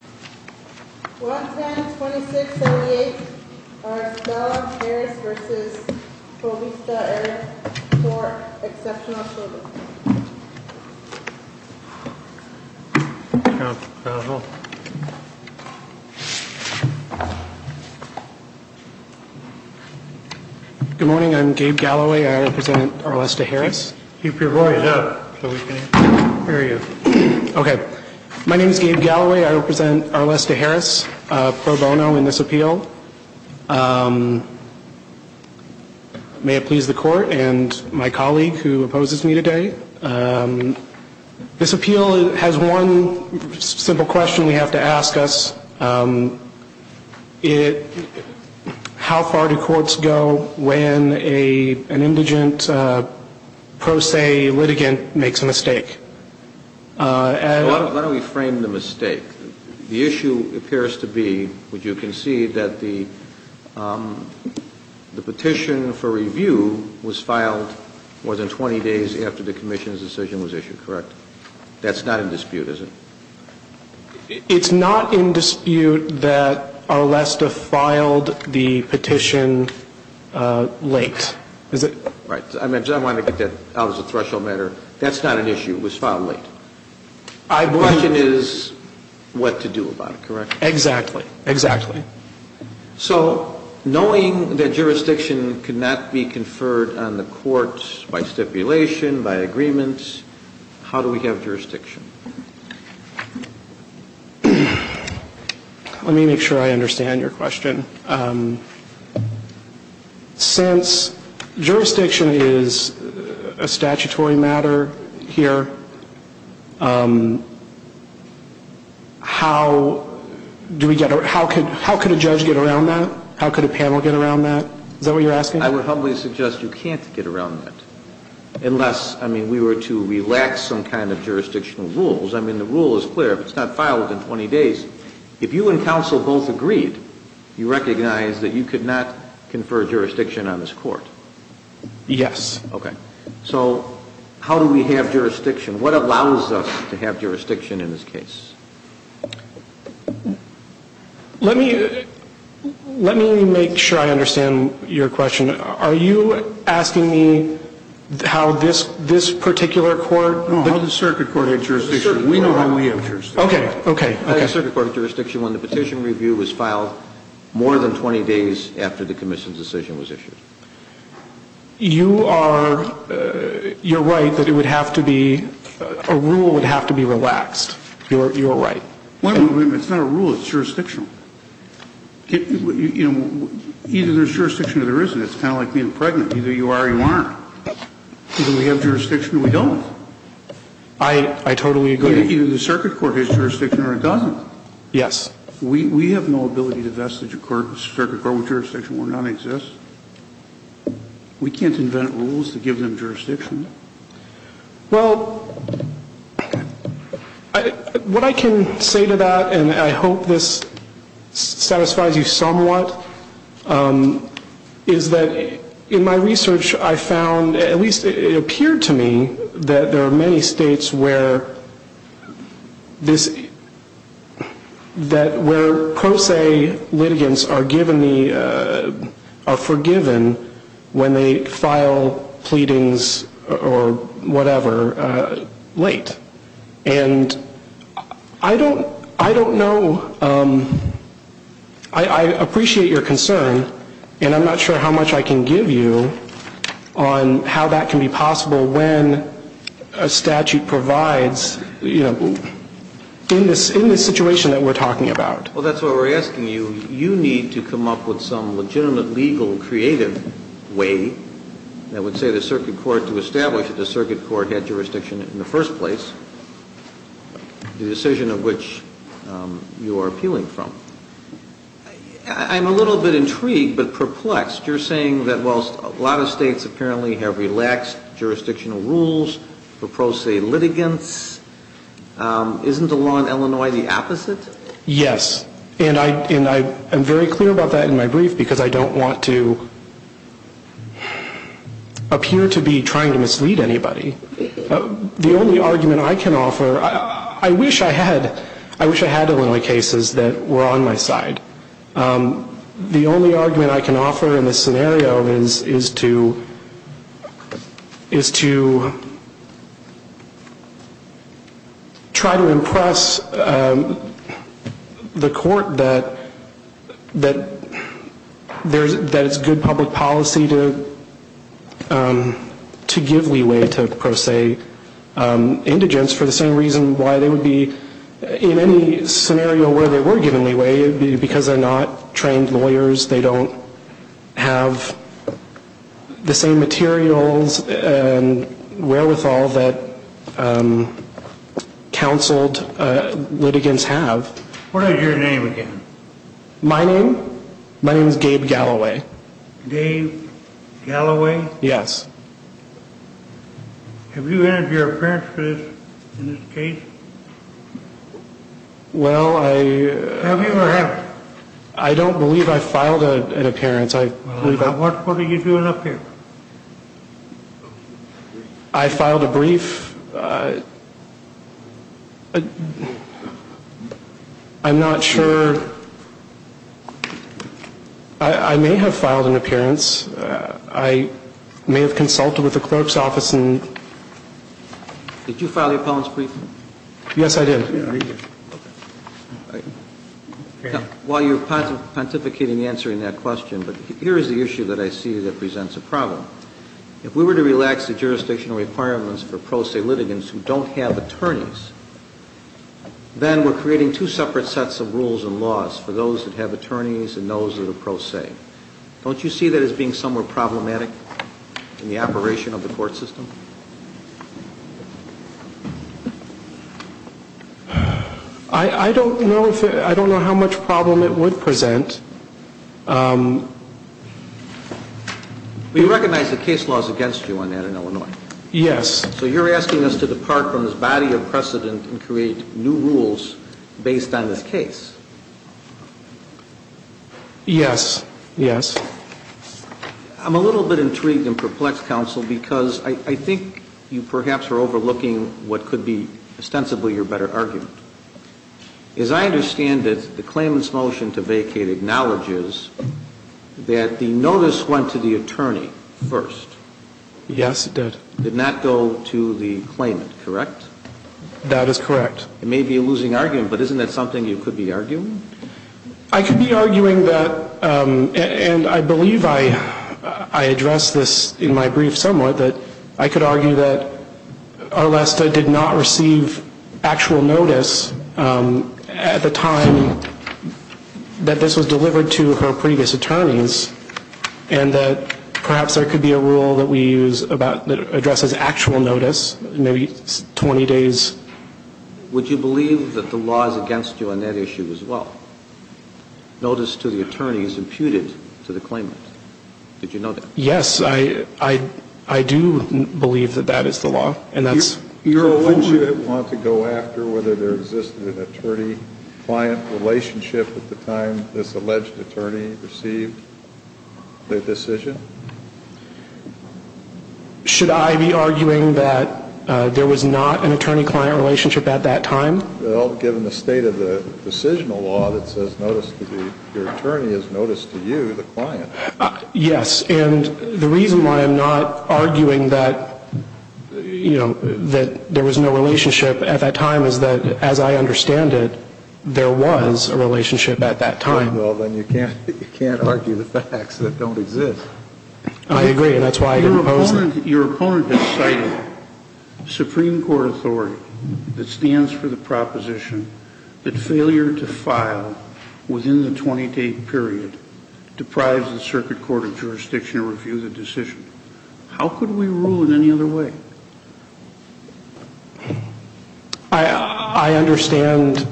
Good morning, I'm Gabe Galloway. I represent Arlesta Harris. Pro bono in this appeal. May it please the court and my colleague who opposes me today. This appeal has one simple question we have to ask us. How far do courts go when an indigent pro se litigant makes a mistake? Why don't we frame the mistake? The issue appears to be, which you can see, that the petition for review was filed more than 20 days after the commission's decision was issued, correct? That's not in dispute, is it? It's not in dispute that Arlesta filed the petition late. Right. I wanted to get that out as a threshold matter. That's not an issue. It was filed late. The question is what to do about it, correct? Exactly. Exactly. So knowing that jurisdiction could not be conferred on the courts by stipulation, by agreement, how do we have jurisdiction? Let me make sure I understand your question. Since jurisdiction is a statutory matter here, how could a judge get around that? How could a panel get around that? Is that what you're asking? I would humbly suggest you can't get around that unless, I mean, we were to relax some kind of jurisdictional rules. I mean, the rule is clear. If it's not filed in 20 days, if you and counsel both agreed, you recognize that you could not confer jurisdiction on this court. Yes. Okay. So how do we have jurisdiction? What allows us to have jurisdiction in this case? Let me make sure I understand your question. Are you asking me how this particular court? No, how does the circuit court have jurisdiction? We know how we have jurisdiction. Okay. Okay. Circuit court jurisdiction when the petition review was filed more than 20 days after the commission's decision was issued. You are, you're right that it would have to be, a rule would have to be relaxed. You're right. It's not a rule, it's jurisdictional. You know, either there's jurisdiction or there isn't. It's kind of like being pregnant. Either you are or you aren't. Either we have jurisdiction or we don't. I totally agree. Either the circuit court has jurisdiction or it doesn't. Yes. We have no ability to vest the circuit court with jurisdiction where none exists. We can't invent rules to give them jurisdiction. Well, what I can say to that, and I hope this satisfies you somewhat, is that in my research I found, at least it appeared to me, that there are many states where this, that where pro se litigants are given the, are forgiven when they file pleadings. Or whatever, late. And I don't, I don't know, I appreciate your concern, and I'm not sure how much I can give you on how that can be possible when a statute provides, you know, in this situation that we're talking about. Well, that's why we're asking you, you need to come up with some legitimate, legal, creative way that would say the circuit court to establish that the circuit court had jurisdiction in the first place, the decision of which you are appealing from. I'm a little bit intrigued, but perplexed. You're saying that whilst a lot of states apparently have relaxed jurisdictional rules for pro se litigants, isn't the law in Illinois the opposite? Yes. And I, and I am very clear about that in my brief because I don't want to appear to be trying to mislead anybody. The only argument I can offer, I wish I had, I wish I had Illinois cases that were on my side. The only argument I can offer in this scenario is, is to, is to try to impress the court that, that there's, that it's good public policy to, to give leeway to pro se indigents for the same reason why they would be, in any scenario where they were given leeway, because they're not trained lawyers, they don't have the same materials and wherewithal that counseled litigants have. What is your name again? My name? My name is Gabe Galloway. Gabe Galloway? Yes. Have you entered your appearance for this, in this case? Well, I... Have you or have you? I don't believe I filed an appearance. I believe I... What, what did you do in appearance? I filed a brief. I'm not sure. I, I may have filed an appearance. I may have consulted with the clerk's office and... Did you file the appellant's brief? Yes, I did. While you're pontificating answering that question, but here is the issue that I see that presents a problem. If we were to relax the jurisdictional requirements for pro se litigants who don't have attorneys, then we're creating two separate sets of rules and laws for those that have attorneys and those that are pro se. Don't you see that as being somewhere problematic in the operation of the court system? I, I don't know if it, I don't know how much problem it would present. We recognize the case law is against you on that in Illinois. Yes. So you're asking us to depart from this body of precedent and create new rules based on this case. Yes, yes. I'm a little bit intrigued and perplexed, counsel, because I, I think you perhaps are overlooking what could be ostensibly your better argument. As I understand it, the claimant's motion to vacate acknowledges that the notice went to the attorney first. Yes, it did. Did not go to the claimant, correct? That is correct. It may be a losing argument, but isn't that something you could be arguing? I could be arguing that, and I believe I, I addressed this in my brief somewhat, that I could argue that Arlesta did not receive actual notice at the time that this was delivered to her previous attorneys and that perhaps there could be a rule that we use about, that addresses actual notice, maybe 20 days. Would you believe that the law is against you on that issue as well? Notice to the attorney is imputed to the claimant. Did you know that? Yes, I, I, I do believe that that is the law, and that's your own. Wouldn't you want to go after whether there existed an attorney-client relationship at the time this alleged attorney received the decision? Should I be arguing that there was not an attorney-client relationship at that time? Well, given the state of the decisional law that says notice to the, your attorney is notice to you, the client. Yes, and the reason why I'm not arguing that, you know, that there was no relationship at that time is that, as I understand it, there was a relationship at that time. Well, then you can't, you can't argue the facts that don't exist. I agree, and that's why I didn't oppose it. Your opponent has cited Supreme Court authority that stands for the proposition that failure to file within the 20-day period deprives the Circuit Court of Jurisdiction to review the decision. How could we rule in any other way? I, I understand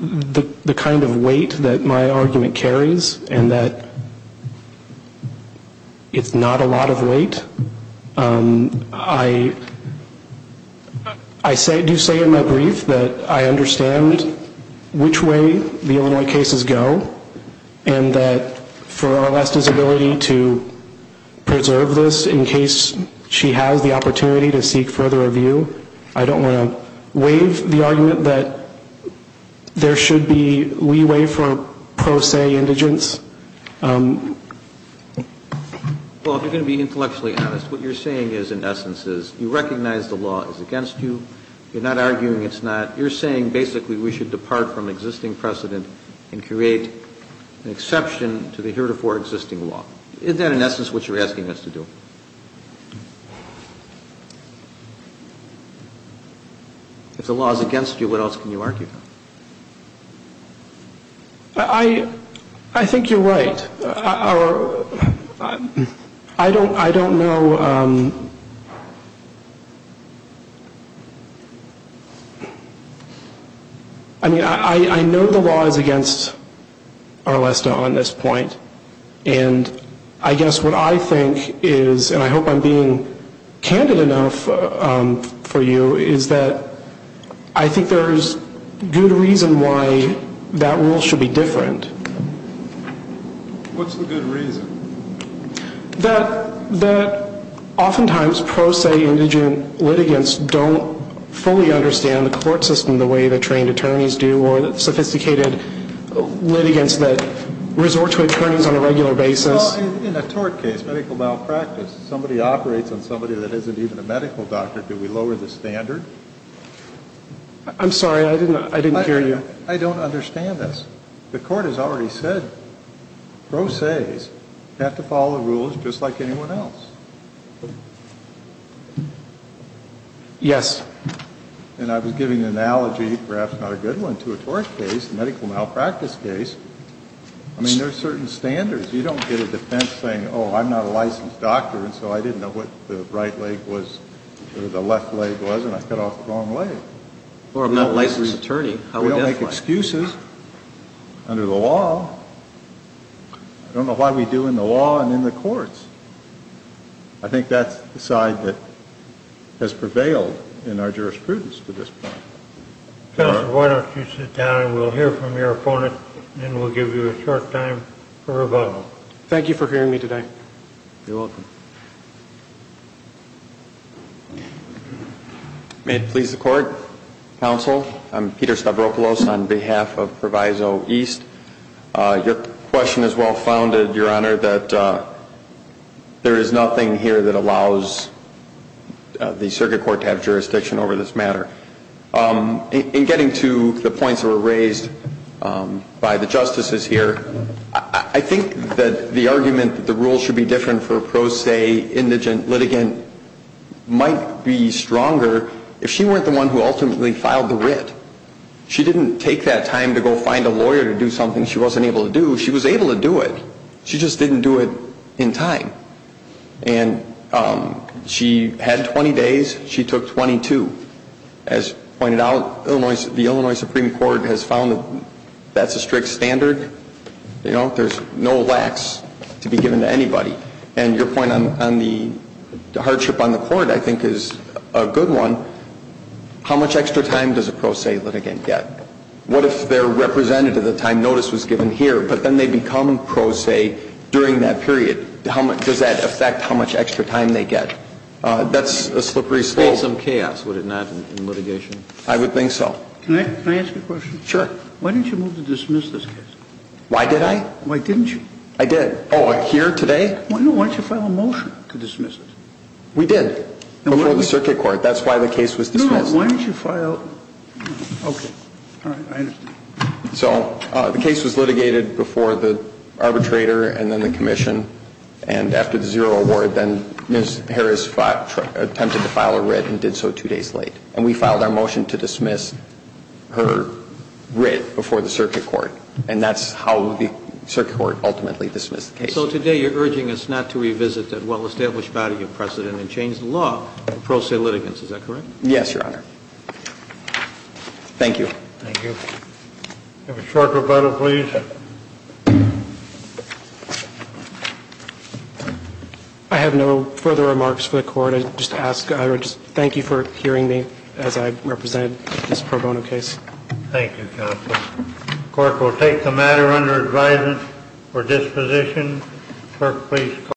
the kind of weight that my argument carries, and that it's not a lot of weight. I, I say, do say in my brief that I understand which way the Illinois cases go, and that for Oresta's ability to preserve this in case she has the opportunity to seek further review, I don't want to waive the argument that there should be leeway for pro se indigence. Well, if you're going to be intellectually honest, what you're saying is, in essence, is you recognize the law is against you. You're not arguing it's not. You're saying basically we should depart from existing precedent and create an exception to the heretofore existing law. Is that, in essence, what you're asking us to do? If the law is against you, what else can you argue? I, I think you're right. I don't, I don't know. I mean, I know the law is against Oresta on this point, and I guess what I think is, and I hope I'm being candid enough for you, is that I think there's good reason why that rule should be different. What's the good reason? That, that oftentimes pro se indigent litigants don't fully understand the court system the way the trained attorneys do, or the sophisticated litigants that resort to attorneys on a regular basis. Well, in a tort case, medical malpractice, somebody operates on somebody that isn't even a medical doctor. Do we lower the standard? I'm sorry. I didn't, I didn't hear you. I don't understand this. The court has already said pro ses have to follow the rules just like anyone else. Yes. And I was giving an analogy, perhaps not a good one, to a tort case, a medical malpractice case. I mean, there are certain standards. You don't get a defense saying, oh, I'm not a licensed doctor, and so I didn't know what the right leg was or the left leg was, and I cut off the wrong leg. Or I'm not a licensed attorney. We don't make excuses under the law. I don't know why we do in the law and in the courts. I think that's the side that has prevailed in our jurisprudence to this point. Counsel, why don't you sit down, and we'll hear from your opponent, and we'll give you a short time for rebuttal. Thank you for hearing me today. You're welcome. May it please the Court, Counsel, I'm Peter Stavropoulos on behalf of Proviso East. Your question is well-founded, Your Honor, that there is nothing here that allows the circuit court to have jurisdiction over this matter. In getting to the points that were raised by the justices here, I think that the argument that the rules should be different for a pro se indigent litigant might be stronger if she weren't the one who ultimately filed the writ. She didn't take that time to go find a lawyer to do something she wasn't able to do. She was able to do it. She just didn't do it in time. And she had 20 days. She took 22. As pointed out, the Illinois Supreme Court has found that that's a strict standard. There's no lax to be given to anybody. And your point on the hardship on the court, I think, is a good one. How much extra time does a pro se litigant get? What if they're represented at the time notice was given here, but then they become pro se during that period? Does that affect how much extra time they get? That's a slippery slope. There would be some chaos, would it not, in litigation? I would think so. Can I ask a question? Sure. Why didn't you move to dismiss this case? Why did I? Why didn't you? I did. Oh, here today? No, why didn't you file a motion to dismiss it? We did before the circuit court. That's why the case was dismissed. No, no. Why didn't you file? Okay. All right. I understand. So the case was litigated before the arbitrator and then the commission. And after the zero award, then Ms. Harris attempted to file a writ and did so two days late. And we filed our motion to dismiss her writ before the circuit court. And that's how the circuit court ultimately dismissed the case. So today you're urging us not to revisit that well-established body of precedent and change the law in pro se litigants. Is that correct? Yes, Your Honor. Thank you. Thank you. Have a short rebuttal, please. I have no further remarks for the court. I just ask, I would just thank you for hearing me as I represented this pro bono case. Thank you, counsel. The court will take the matter under advisement for disposition. Clerk, please call the roll.